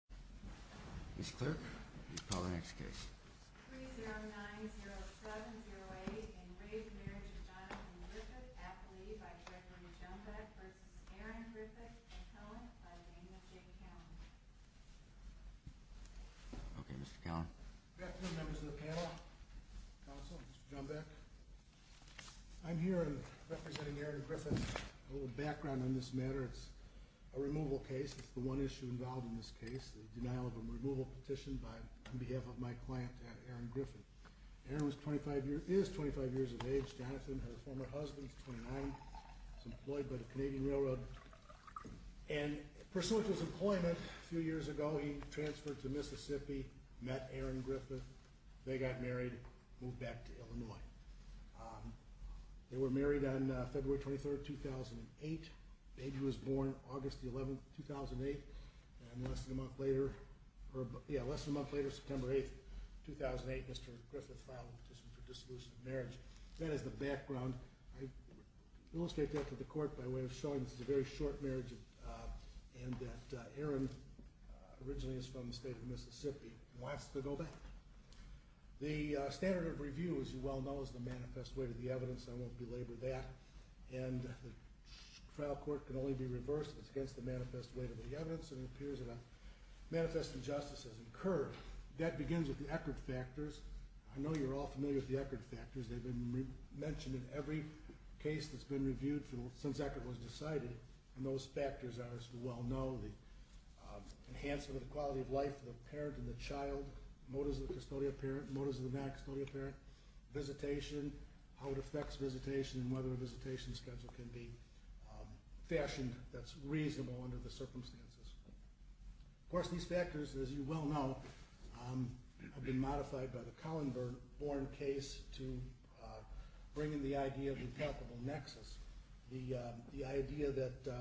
by Gregory Johnbeck v. Aaron Griffith and Kellan by Daniel J. Kellan. Good afternoon members of the panel, counsel, Mr. Johnbeck. I'm here representing Aaron Griffith. A little background on this matter. It's a removal case. It's the one issue involved in this case. The denial of a removal petition on behalf of my client Aaron Griffith. Aaron is 25 years of age. Jonathan has a former husband. He's 29. He's employed by the Canadian Railroad. And pursuant to his employment a few years ago, he transferred to Mississippi, met Aaron Griffith. They got married, moved back to Illinois. They were married on February 23, 2008. The baby was born August 11, 2008. And less than a month later, September 8, 2008, Mr. Griffith filed a petition for dissolution of marriage. That is the background. I illustrate that to the court by way of showing this is a very short marriage and that Aaron originally is from the state of Mississippi and wants to go back. The standard of review, as you well know, is the manifest way to the evidence. I won't belabor that. And the trial court can only be reversed if it's against the manifest way to the evidence. And it appears that a manifest injustice has occurred. That begins with the Eckerd factors. I know you're all familiar with the Eckerd factors. They've been mentioned in every case that's been reviewed since Eckerd was decided. And those factors are, as you well know, the enhancement of the quality of life of the parent and the child, motives of the custodial parent, motives of the non-custodial parent, visitation, how it affects visitation and whether a visitation schedule can be fashioned that's reasonable under the circumstances. Of course, these factors, as you well know, have been modified by the Kallenborn case to bring in the idea of the palpable nexus, the idea that the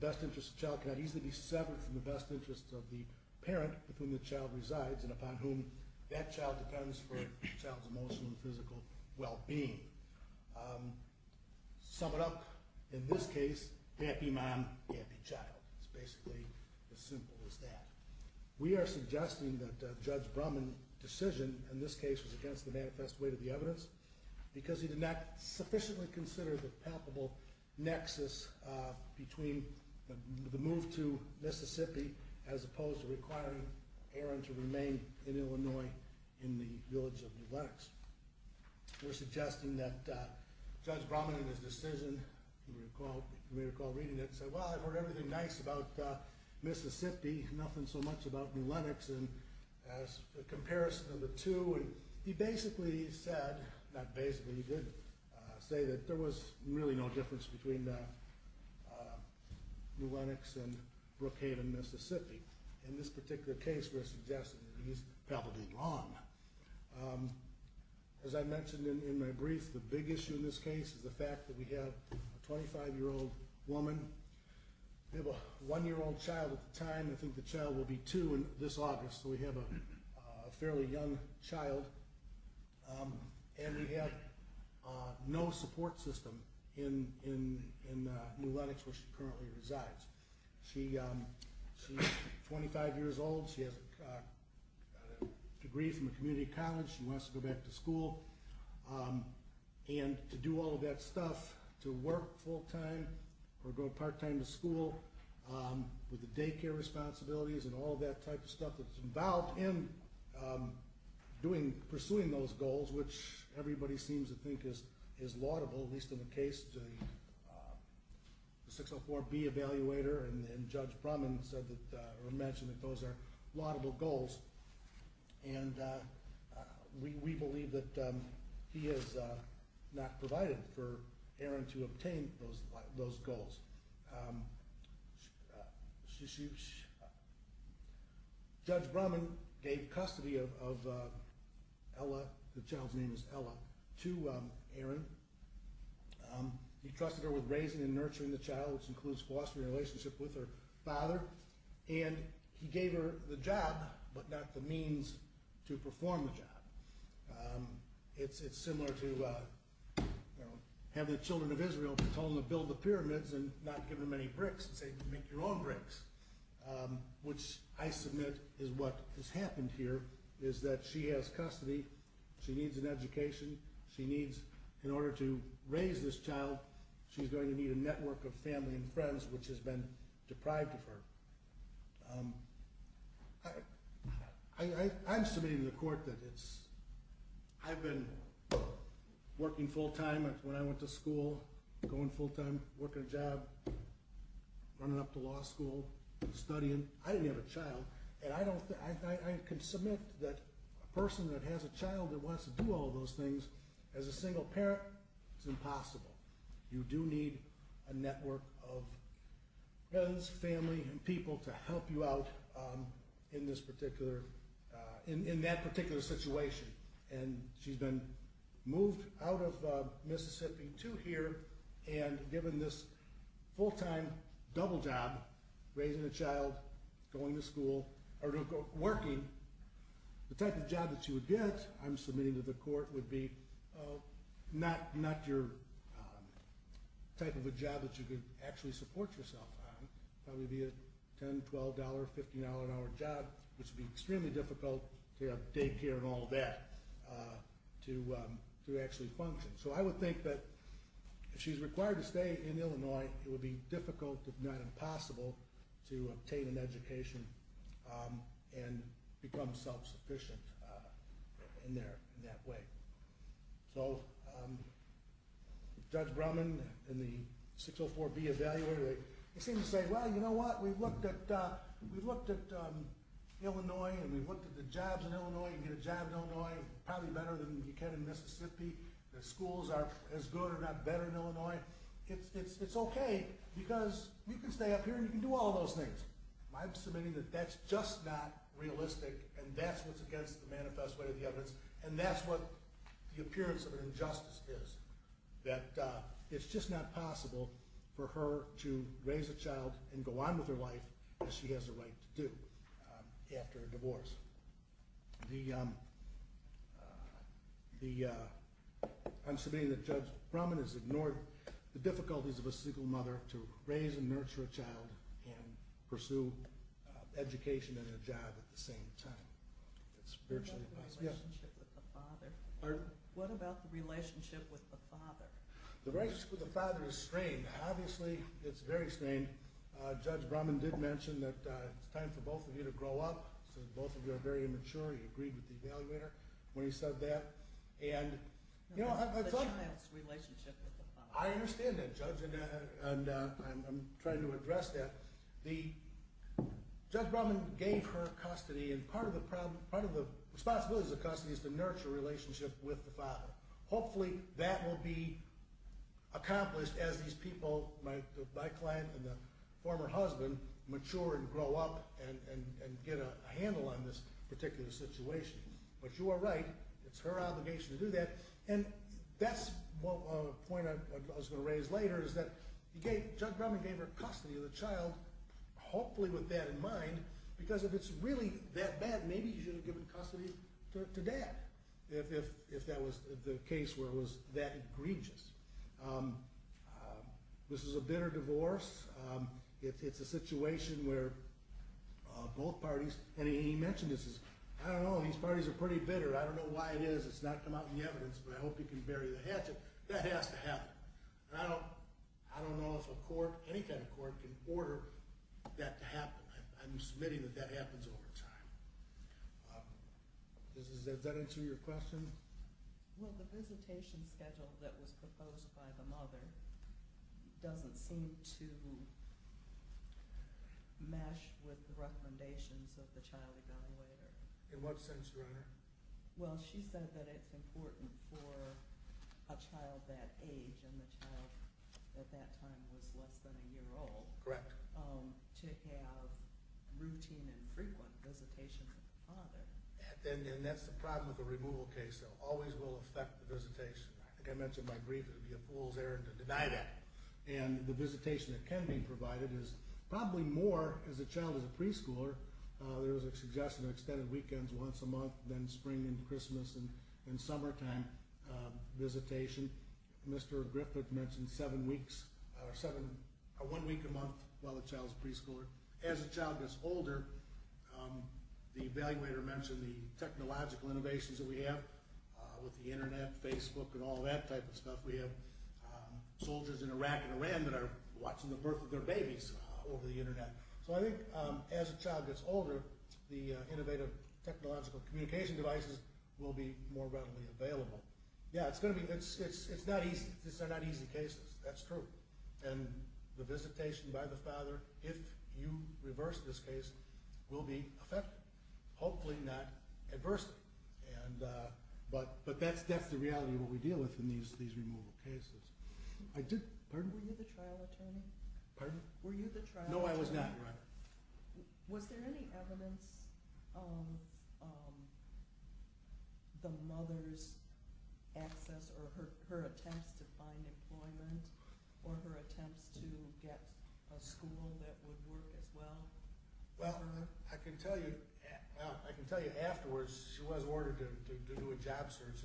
best interest of the child cannot easily be severed from the best interest of the parent with whom the child resides and upon whom that child depends for the child's emotional and physical well-being. Sum it up, in this case, happy mom, happy child. It's basically as simple as that. We are suggesting that Judge Brumman's decision in this case was against the manifest way to the evidence because he did not sufficiently consider the palpable nexus between the move to Mississippi as opposed to requiring Aaron to remain in Illinois in the village of New Lenox. We're suggesting that Judge Brumman, in his decision, you may recall reading it, said, well, I've heard everything nice about Mississippi, nothing so much about New Lenox, and as a comparison of the two, he basically said, not basically, he did say that there was really no difference between New Lenox and Brookhaven, Mississippi. In this particular case, we're suggesting that he's palpably wrong. As I mentioned in my brief, the big issue in this case is the fact that we have a 25-year-old woman, we have a one-year-old child at the time, I think the child will be two this August, so we have a fairly young child, and we have no support system in New Lenox where she currently resides. She's 25 years old, she has a degree from a community college, she wants to go back to school, and to do all of that stuff, to work full-time or go part-time to school with the daycare responsibilities and all of that type of stuff that's involved in pursuing those goals, which everybody seems to think is laudable, at least in the case of the 604B evaluator, and Judge Brumman mentioned that those are laudable goals. And we believe that he has not provided for Erin to obtain those goals. Judge Brumman gave custody of Ella, the child's name is Ella, to Erin. He trusted her with raising and nurturing the child, which includes fostering a relationship with her father, and he gave her the job, but not the means to perform the job. It's similar to having the children of Israel and telling them to build the pyramids and not giving them any bricks and saying make your own bricks, which I submit is what has happened here, is that she has custody, she needs an education, she needs, in order to raise this child, she's going to need a network of family and friends which has been deprived of her. I'm submitting to the court that I've been working full-time when I went to school, going full-time, working a job, running up to law school, studying. I didn't have a child, and I can submit that a person that has a child that wants to do all those things, as a single parent, it's impossible. You do need a network of friends, family, and people to help you out in this particular, in that particular situation, and she's been moved out of Mississippi to here and given this full-time double job, raising a child, going to school, or working. The type of job that she would get, I'm submitting to the court, would be not your type of a job that you could actually support yourself on. It would probably be a $10, $12, $15 an hour job, which would be extremely difficult to have daycare and all of that to actually function. So I would think that if she's required to stay in Illinois, it would be difficult, if not impossible, to obtain an education and become self-sufficient in that way. So Judge Brumman and the 604B evaluator, they seem to say, well, you know what, we looked at Illinois, and we looked at the jobs in Illinois, you can get a job in Illinois, probably better than you can in Mississippi. The schools are as good or not better in Illinois. It's okay because you can stay up here and you can do all of those things. I'm submitting that that's just not realistic, and that's what's against the manifest way of the evidence, and that's what the appearance of an injustice is, that it's just not possible for her to raise a child and go on with her life as she has a right to do after a divorce. I'm submitting that Judge Brumman has ignored the difficulties of a single mother to raise and nurture a child and pursue education and a job at the same time. What about the relationship with the father? The relationship with the father is strained. Obviously, it's very strained. Judge Brumman did mention that it's time for both of you to grow up, so both of you are very immature. He agreed with the evaluator when he said that. The child's relationship with the father. I understand that, Judge, and I'm trying to address that. Judge Brumman gave her custody, and part of the responsibility of the custody is to nurture a relationship with the father. Hopefully, that will be accomplished as these people, my client and the former husband, mature and grow up and get a handle on this particular situation. But you are right. It's her obligation to do that, and that's a point I was going to raise later, is that Judge Brumman gave her custody of the child, hopefully with that in mind, because if it's really that bad, maybe he should have given custody to Dad if that was the case where it was that egregious. This is a bitter divorce. It's a situation where both parties, and he mentioned this, I don't know, these parties are pretty bitter. I don't know why it is. It's not come out in the evidence, but I hope he can bury the hatchet. That has to happen. I don't know if a court, any kind of court, can order that to happen. I'm submitting that that happens over time. Does that answer your question? Well, the visitation schedule that was proposed by the mother doesn't seem to mesh with the recommendations of the child evaluator. In what sense, Your Honor? Well, she said that it's important for a child that age, and the child at that time was less than a year old, to have routine and frequent visitations with the father. And that's the problem with a removal case. It always will affect the visitation. I think I mentioned my grief that it would be a fool's errand to deny that. And the visitation that can be provided is probably more, as a child is a preschooler, there is a suggestion of extended weekends once a month, then spring and Christmas and summertime visitation. Mr. Griffith mentioned one week a month while the child is a preschooler. As a child gets older, the evaluator mentioned the technological innovations that we have with the Internet, Facebook, and all that type of stuff we have. Soldiers in Iraq and Iran that are watching the birth of their babies over the Internet. So I think as a child gets older, the innovative technological communication devices will be more readily available. Yeah, it's not easy. These are not easy cases. That's true. And the visitation by the father, if you reverse this case, will be affected. Hopefully not adversely. But that's the reality of what we deal with in these removal cases. Were you the trial attorney? Pardon? Were you the trial attorney? No, I was not. Was there any evidence of the mother's access or her attempts to find employment or her attempts to get a school that would work as well? Well, I can tell you afterwards she was ordered to do a job search.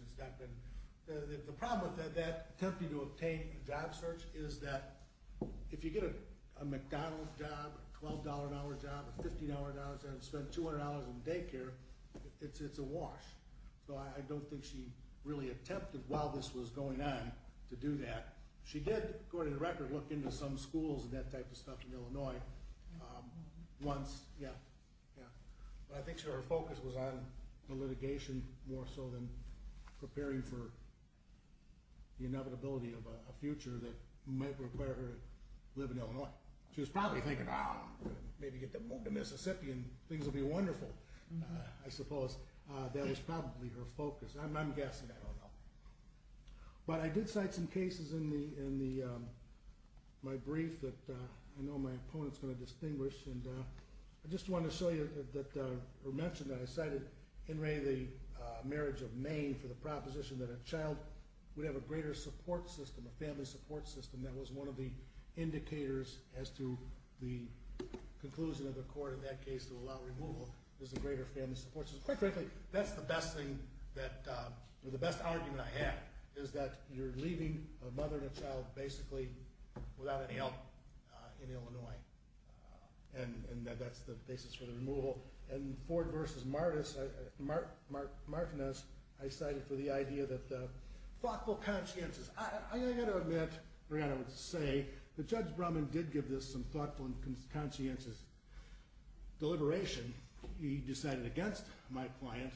The problem with that attempt to obtain a job search is that if you get a McDonald's job, a $12-an-hour job, a $15-an-hour job, and spend $200 in daycare, it's a wash. So I don't think she really attempted while this was going on to do that. She did, according to the record, look into some schools and that type of stuff in Illinois once. But I think her focus was on the litigation more so than preparing for the inevitability of a future that might require her to live in Illinois. She was probably thinking, ah, maybe get to move to Mississippi and things will be wonderful, I suppose. That was probably her focus. I'm guessing, I don't know. But I did cite some cases in my brief that I know my opponent is going to distinguish. I just wanted to show you or mention that I cited Henry, the marriage of Maine, for the proposition that a child would have a greater support system, a family support system. That was one of the indicators as to the conclusion of the court in that case to allow removal is a greater family support system. Quite frankly, that's the best argument I have, is that you're leaving a mother and a child basically without any help in Illinois. And that's the basis for the removal. And Ford v. Martinez, I cited for the idea that thoughtful consciences. I've got to admit, Brianna would say, that Judge Brumman did give this some thoughtful and conscientious deliberation. He decided against my client,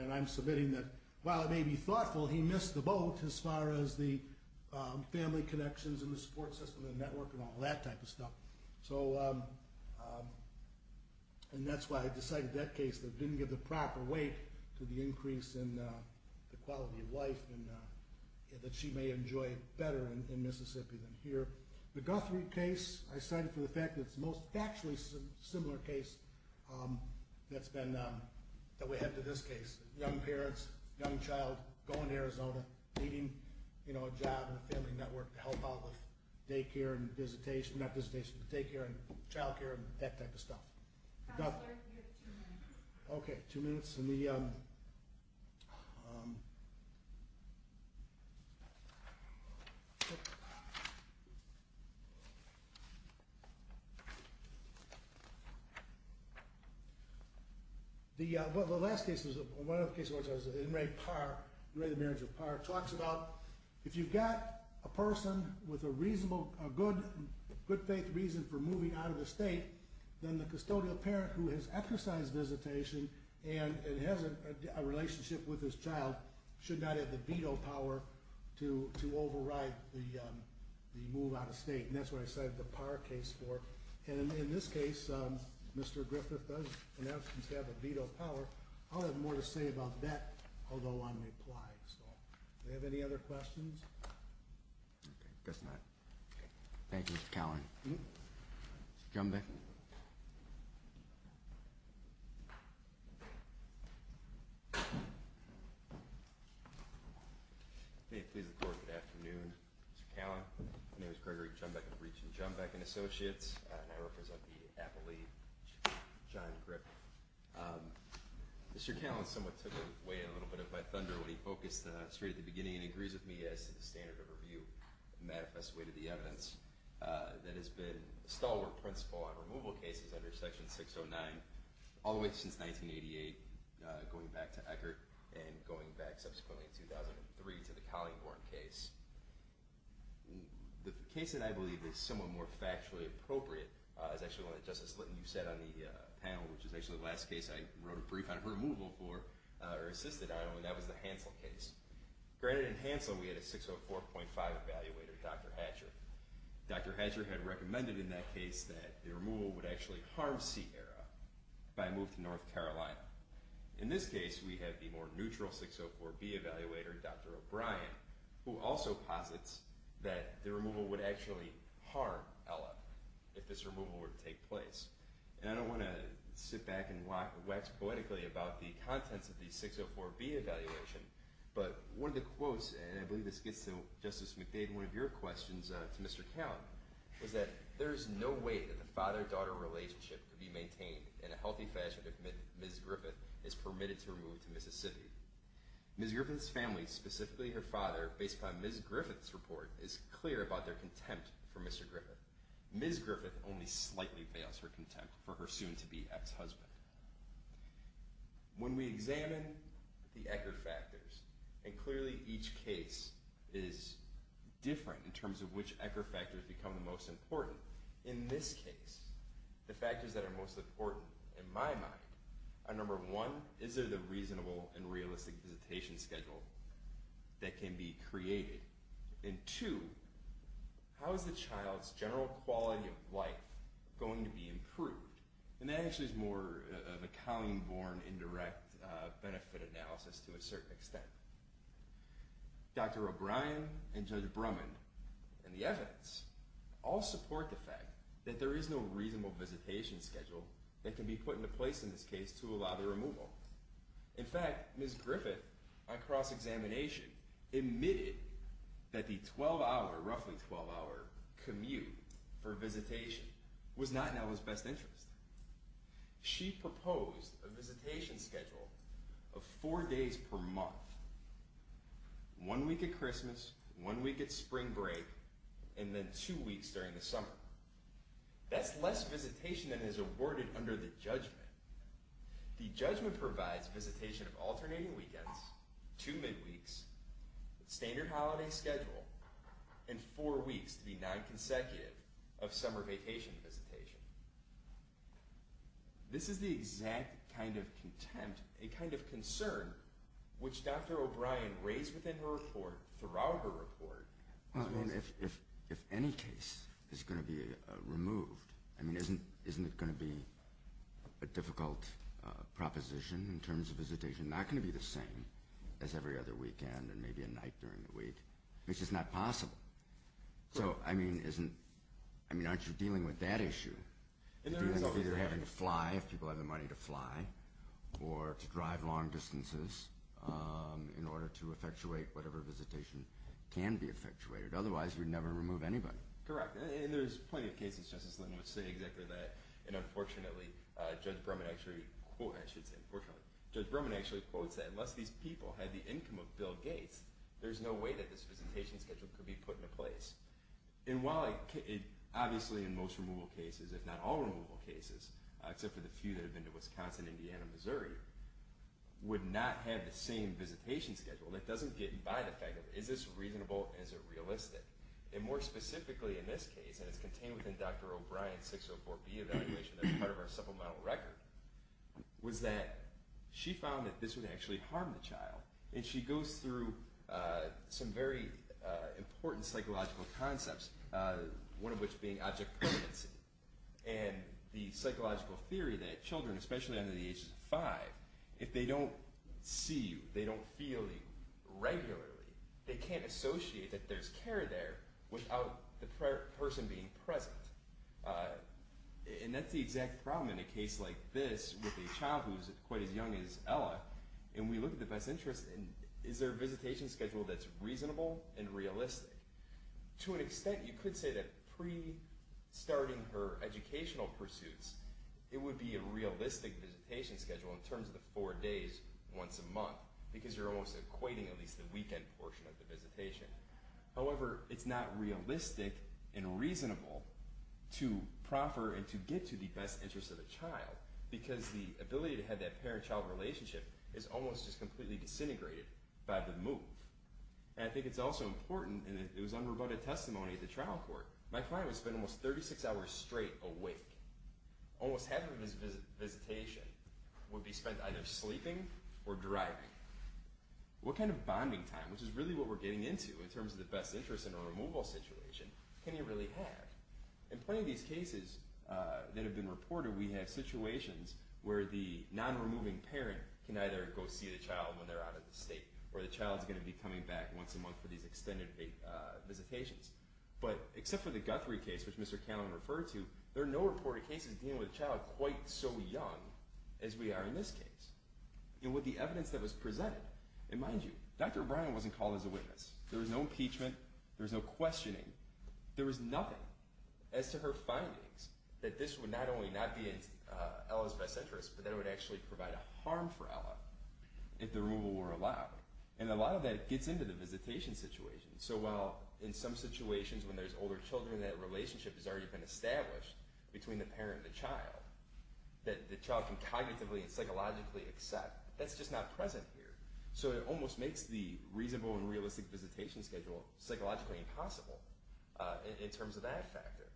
and I'm submitting that while it may be thoughtful, he missed the boat as far as the family connections and the support system and network and all that type of stuff. And that's why I decided that case didn't give the proper weight to the increase in the quality of life that she may enjoy better in Mississippi than here. The Guthrie case, I cited for the fact that it's the most factually similar case that we have to this case. Young parents, young child going to Arizona, needing a job and a family network to help out with daycare and visitation, not visitation, daycare and childcare and that type of stuff. Okay, two minutes. The last case was Enray Parr, Enray the marriage of Parr. It talks about if you've got a person with a good faith reason for moving out of the state, then the custodial parent who has exercised visitation and has a relationship with his child should not have the veto power to override the move out of state. And that's what I cited the Parr case for. And in this case, Mr. Griffith does, in essence, have a veto power. I'll have more to say about that, although I'm implying so. Do we have any other questions? Okay, guess not. Thank you, Mr. Cowan. Mr. Jumbeck. May it please the Court, good afternoon. Mr. Cowan, my name is Gregory Jumbeck of Reach and Jumbeck and Associates, and I represent the Apple League, John Griffith. Mr. Cowan somewhat took away a little bit of my thunder when he focused straight at the beginning and agrees with me as to the standard of review, a manifest way to the evidence that has been a stalwart principle on removal cases under Section 609 all the way since 1988, going back to Eckert, and going back subsequently in 2003 to the Collingborn case. The case that I believe is somewhat more factually appropriate is actually one that Justice Litton, you said on the panel, which is actually the last case I wrote a brief on her removal for or assisted on, and that was the Hansel case. Granted, in Hansel we had a 604.5 evaluator, Dr. Hatcher. Dr. Hatcher had recommended in that case that the removal would actually harm Sierra by move to North Carolina. In this case, we have the more neutral 604B evaluator, Dr. O'Brien, who also posits that the removal would actually harm Ella if this removal were to take place. And I don't want to sit back and wax poetically about the contents of the 604B evaluation, but one of the quotes, and I believe this gets to Justice McDade in one of your questions to Mr. Count, was that there is no way that the father-daughter relationship could be maintained in a healthy fashion if Ms. Griffith is permitted to remove to Mississippi. Ms. Griffith's family, specifically her father, based upon Ms. Griffith's report, is clear about their contempt for Mr. Griffith. Ms. Griffith only slightly veils her contempt for her soon-to-be ex-husband. When we examine the Ecker factors, and clearly each case is different in terms of which Ecker factors become the most important, in this case, the factors that are most important, in my mind, are number one, is there the reasonable and realistic visitation schedule that can be created? And two, how is the child's general quality of life going to be improved? And that actually is more of a common-born, indirect benefit analysis to a certain extent. Dr. O'Brien and Judge Brummond and the evidence all support the fact that there is no reasonable visitation schedule that can be put into place in this case to allow the removal. In fact, Ms. Griffith, on cross-examination, admitted that the 12-hour, roughly 12-hour, commute for visitation was not in our best interest. She proposed a visitation schedule of four days per month. One week at Christmas, one week at spring break, and then two weeks during the summer. That's less visitation than is awarded under the judgment. The judgment provides visitation of alternating weekends, two midweeks, standard holiday schedule, and four weeks to be non-consecutive of summer vacation visitation. This is the exact kind of contempt, a kind of concern, which Dr. O'Brien raised within her report, throughout her report. If any case is going to be removed, isn't it going to be a difficult proposition in terms of visitation? It's not going to be the same as every other weekend and maybe a night during the week. It's just not possible. So, I mean, aren't you dealing with that issue? It's either having to fly, if people have the money to fly, or to drive long distances in order to effectuate whatever visitation can be effectuated. Otherwise, we'd never remove anybody. Correct. And there's plenty of cases, Justice Linton, which say exactly that. And unfortunately, Judge Berman actually quotes that, unless these people had the income of Bill Gates, there's no way that this visitation schedule could be put into place. And while obviously in most removal cases, if not all removal cases, except for the few that have been to Wisconsin, Indiana, and Missouri, would not have the same visitation schedule, that doesn't get by the fact of, is this reasonable, is it realistic? And more specifically in this case, and it's contained within Dr. O'Brien's 604B evaluation that's part of our supplemental record, was that she found that this would actually harm the child. And she goes through some very important psychological concepts, one of which being object permanency. And the psychological theory that children, especially under the age of five, if they don't see you, they don't feel you regularly, they can't associate that there's care there without the person being present. And that's the exact problem in a case like this, with a child who's quite as young as Ella, and we look at the best interest, and is there a visitation schedule that's reasonable and realistic? To an extent, you could say that pre-starting her educational pursuits, it would be a realistic visitation schedule in terms of the four days once a month, because you're almost equating at least the weekend portion of the visitation. However, it's not realistic and reasonable to proffer and to get to the best interest of the child, because the ability to have that parent-child relationship is almost just completely disintegrated by the move. And I think it's also important, and it was unrebutted testimony at the trial court, my client would spend almost 36 hours straight awake. Almost half of his visitation would be spent either sleeping or driving. What kind of bonding time, which is really what we're getting into in terms of the best interest in a removal situation, can you really have? In plenty of these cases that have been reported, we have situations where the non-removing parent can either go see the child when they're out of the state or the child's going to be coming back once a month for these extended visitations. But except for the Guthrie case, which Mr. Canlon referred to, there are no reported cases dealing with a child quite so young as we are in this case. And with the evidence that was presented, and mind you, Dr. O'Brien wasn't called as a witness. There was no impeachment. There was no questioning. There was nothing as to her findings that this would not only not be in Ella's best interest, but that it would actually provide a harm for Ella if the removal were allowed. And a lot of that gets into the visitation situation. So while in some situations when there's older children, that relationship has already been established between the parent and the child, that the child can cognitively and psychologically accept, that's just not present here. So it almost makes the reasonable and realistic visitation schedule psychologically impossible in terms of that factor.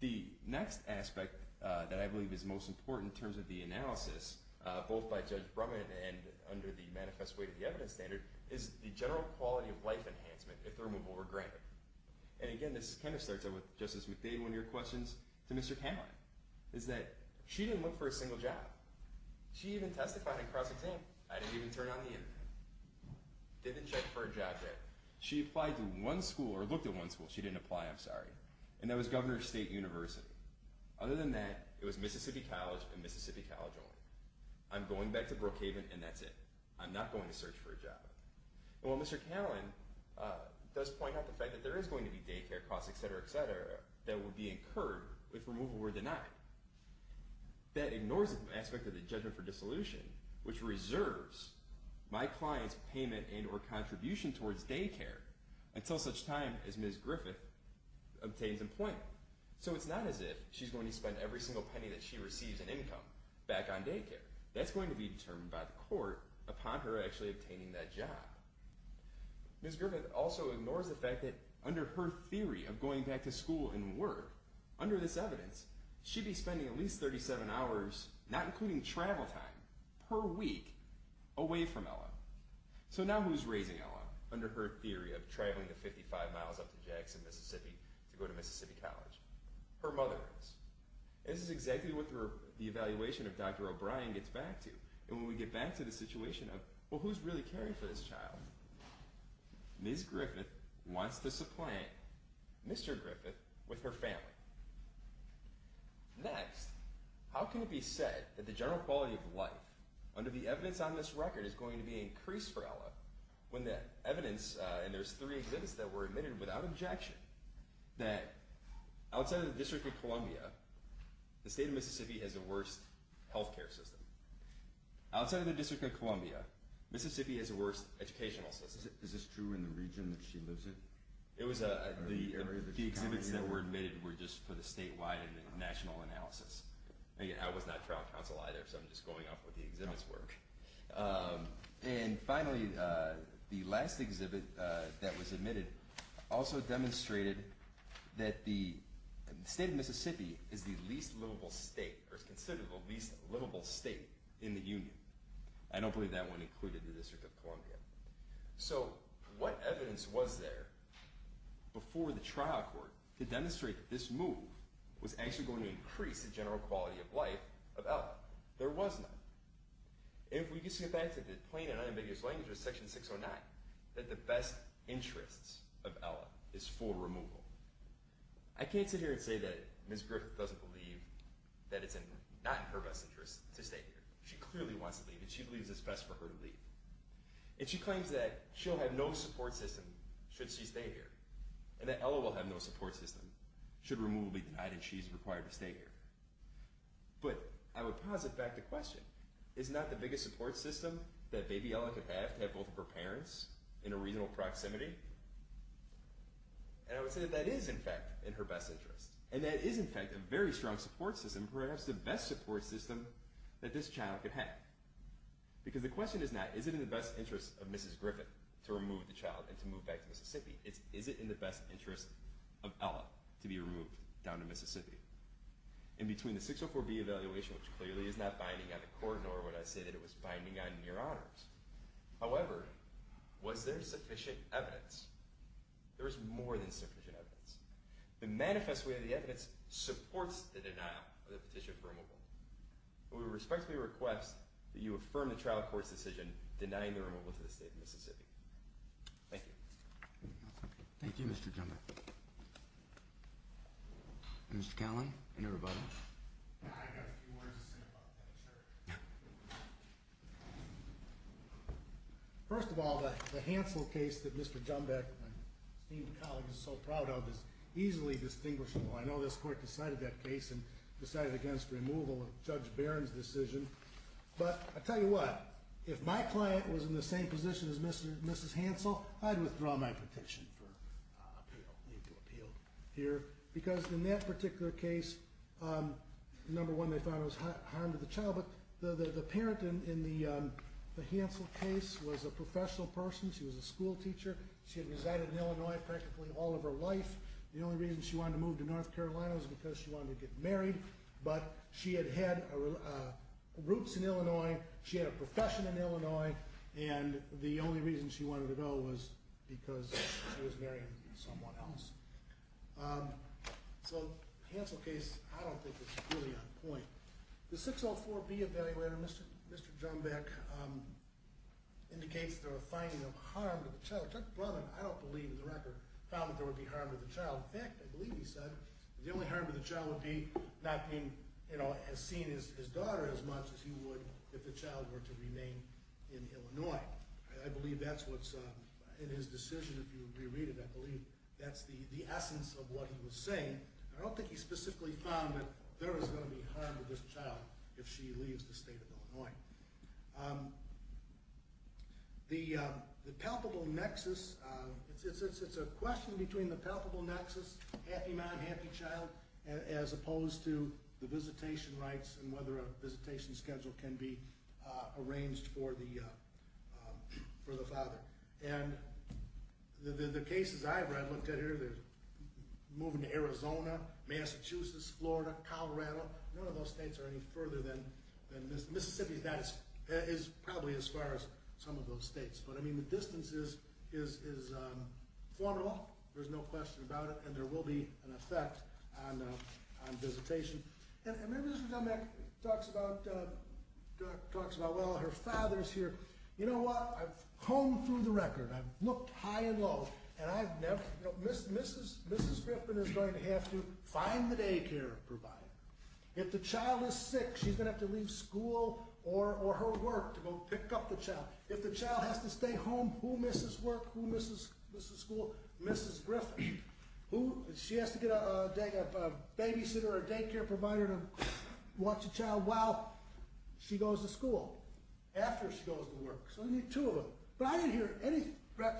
The next aspect that I believe is most important in terms of the analysis, both by Judge Brumman and under the Manifest Weight of the Evidence standard, is the general quality of life enhancement, if the removal were granted. And again, this kind of starts out with Justice McDade, one of your questions to Mr. Canlon, is that she didn't look for a single job. She even testified in cross-exam. I didn't even turn on the internet. Didn't check for a job yet. She applied to one school, or looked at one school. She didn't apply, I'm sorry. And that was Governor's State University. Other than that, it was Mississippi College and Mississippi College only. I'm going back to Brookhaven, and that's it. I'm not going to search for a job. And while Mr. Canlon does point out the fact that there is going to be daycare costs, etc., etc., that will be incurred if removal were denied, that ignores the aspect of the judgment for dissolution, which reserves my client's payment and or contribution towards daycare until such time as Ms. Griffith obtains employment. So it's not as if she's going to spend every single penny that she receives in income back on daycare. That's going to be determined by the court upon her actually obtaining that job. Ms. Griffith also ignores the fact that under her theory of going back to school and work, under this evidence, she'd be spending at least 37 hours, not including travel time, per week, away from Ella. So now who's raising Ella under her theory of traveling the 55 miles up to Jackson, Mississippi, to go to Mississippi College? Her mother is. And this is exactly what the evaluation of Dr. O'Brien gets back to. And when we get back to the situation of, well, who's really caring for this child? Ms. Griffith wants to supplant Mr. Griffith with her family. Next, how can it be said that the general quality of life under the evidence on this record is going to be increased for Ella when the evidence, and there's three exhibits that were admitted without objection, that outside of the District of Columbia, the state of Mississippi has the worst health care system. Outside of the District of Columbia, Mississippi has the worst educational system. Is this true in the region that she lives in? The exhibits that were admitted were just for the statewide and national analysis. I was not trial counsel either, so I'm just going off what the exhibits were. And finally, the last exhibit that was admitted also demonstrated that the state of Mississippi is the least livable state, or is considered the least livable state, in the Union. I don't believe that one included the District of Columbia. So what evidence was there before the trial court to demonstrate that this move was actually going to increase the general quality of life of Ella? There was none. And if we just get back to the plain and unambiguous language of Section 609, that the best interests of Ella is full removal. I can't sit here and say that Ms. Griffith doesn't believe that it's not in her best interests to stay here. She clearly wants to leave, and she believes it's best for her to leave. And she claims that she'll have no support system should she stay here, and that Ella will have no support system should removal be denied and she's required to stay here. But I would posit back the question, is not the biggest support system that baby Ella could have to have both of her parents in a reasonable proximity? And I would say that that is, in fact, in her best interest. And that is, in fact, a very strong support system, perhaps the best support system that this child could have. Because the question is not, is it in the best interest of Mrs. Griffith to remove the child and to move back to Mississippi? It's, is it in the best interest of Ella to be removed down to Mississippi? In between the 604B evaluation, which clearly is not binding on the court, nor would I say that it was binding on your honors, however, was there sufficient evidence? There is more than sufficient evidence. The manifest way of the evidence supports the denial of the petition for removal. We respectfully request that you affirm the trial court's decision denying the removal to the state of Mississippi. Thank you. Thank you, Mr. Jumbach. Mr. Catlin and everybody. I've got a few words to say about that. Sure. First of all, the Hansel case that Mr. Jumbach and my esteemed colleagues are so proud of is easily distinguishable. I know this court decided that case and decided against removal of Judge Barron's decision. But I'll tell you what. If my client was in the same position as Mrs. Hansel, I'd withdraw my petition for appeal, legal appeal here. Because in that particular case, the number one they found was harm to the child. But the parent in the Hansel case was a professional person. She was a school teacher. She had resided in Illinois practically all of her life. The only reason she wanted to move to North Carolina was because she wanted to get married. But she had roots in Illinois. She had a profession in Illinois. And the only reason she wanted to go was because she was marrying someone else. So the Hansel case, I don't think it's really on point. The 604B evaluator, Mr. Jumbach, indicates there were findings of harm to the child. I don't believe the record found that there would be harm to the child. In fact, I believe he said the only harm to the child would be not being seen as his daughter as much as he would if the child were to remain in Illinois. I believe that's what's in his decision. If you reread it, I believe that's the essence of what he was saying. I don't think he specifically found that there was going to be harm to this child if she leaves the state of Illinois. The palpable nexus, it's a question between the palpable nexus, happy mom, happy child, as opposed to the visitation rights and whether a visitation schedule can be arranged for the father. And the cases I've read, looked at here, moving to Arizona, Massachusetts, Florida, Colorado, none of those states are any further than Mississippi. That is probably as far as some of those states. But, I mean, the distance is formidable. There's no question about it. And there will be an effect on visitation. And maybe Mr. Jumbach talks about, well, her father's here. You know what? I've honed through the record. I've looked high and low. Mrs. Griffin is going to have to find the daycare provider. If the child is sick, she's going to have to leave school or her work to go pick up the child. If the child has to stay home, who misses work, who misses school? Mrs. Griffin. She has to get a babysitter or a daycare provider to watch the child while she goes to school, after she goes to work. So you need two of them. But I didn't hear any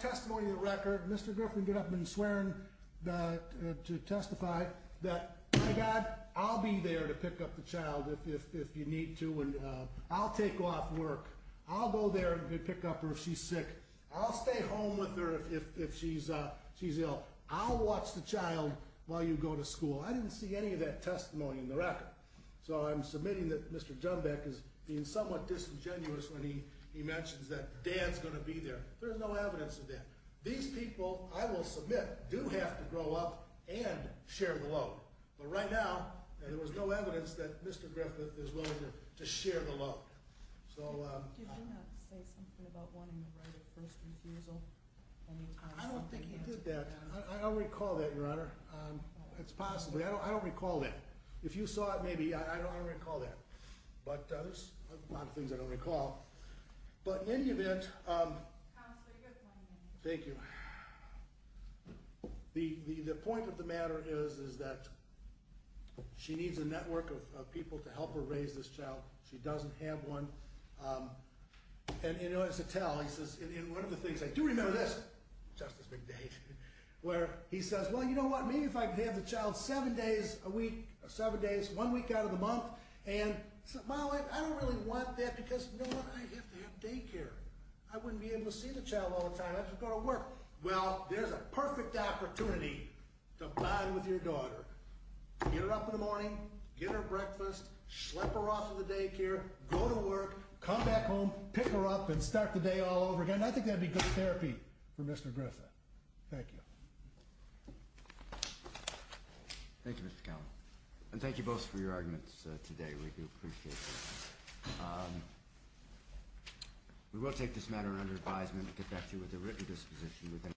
testimony in the record. Mr. Griffin did not have been swearing to testify that, My God, I'll be there to pick up the child if you need to. I'll take off work. I'll go there and pick up her if she's sick. I'll stay home with her if she's ill. I'll watch the child while you go to school. I didn't see any of that testimony in the record. So I'm submitting that Mr. Dunbeck is being somewhat disingenuous when he mentions that Dad's going to be there. There's no evidence of that. These people, I will submit, do have to grow up and share the load. But right now, there was no evidence that Mr. Griffin is willing to share the load. Did he not say something about wanting the right of first refusal? I don't think he did that. I don't recall that, Your Honor. It's possible. I don't recall that. If you saw it, maybe. I don't recall that. But there's a lot of things I don't recall. But in any event, thank you. The point of the matter is that she needs a network of people to help her raise this child. She doesn't have one. And in order to tell, he says, in one of the things, I do remember this, Justice McDade, where he says, well, you know what, maybe if I could have the child seven days a week, seven days, one week out of the month, and my wife, I don't really want that because, you know what, I have to have daycare. I wouldn't be able to see the child all the time. I've just got to work. Well, there's a perfect opportunity to bond with your daughter. Get her up in the morning, get her breakfast, schlep her off to the daycare, go to work, come back home, pick her up, and start the day all over again. And I think that would be good therapy for Mr. Griffin. Thank you. Thank you, Mr. Cowan. And thank you both for your arguments today. We do appreciate it. We will take this matter under advisement and get back to you with a written disposition.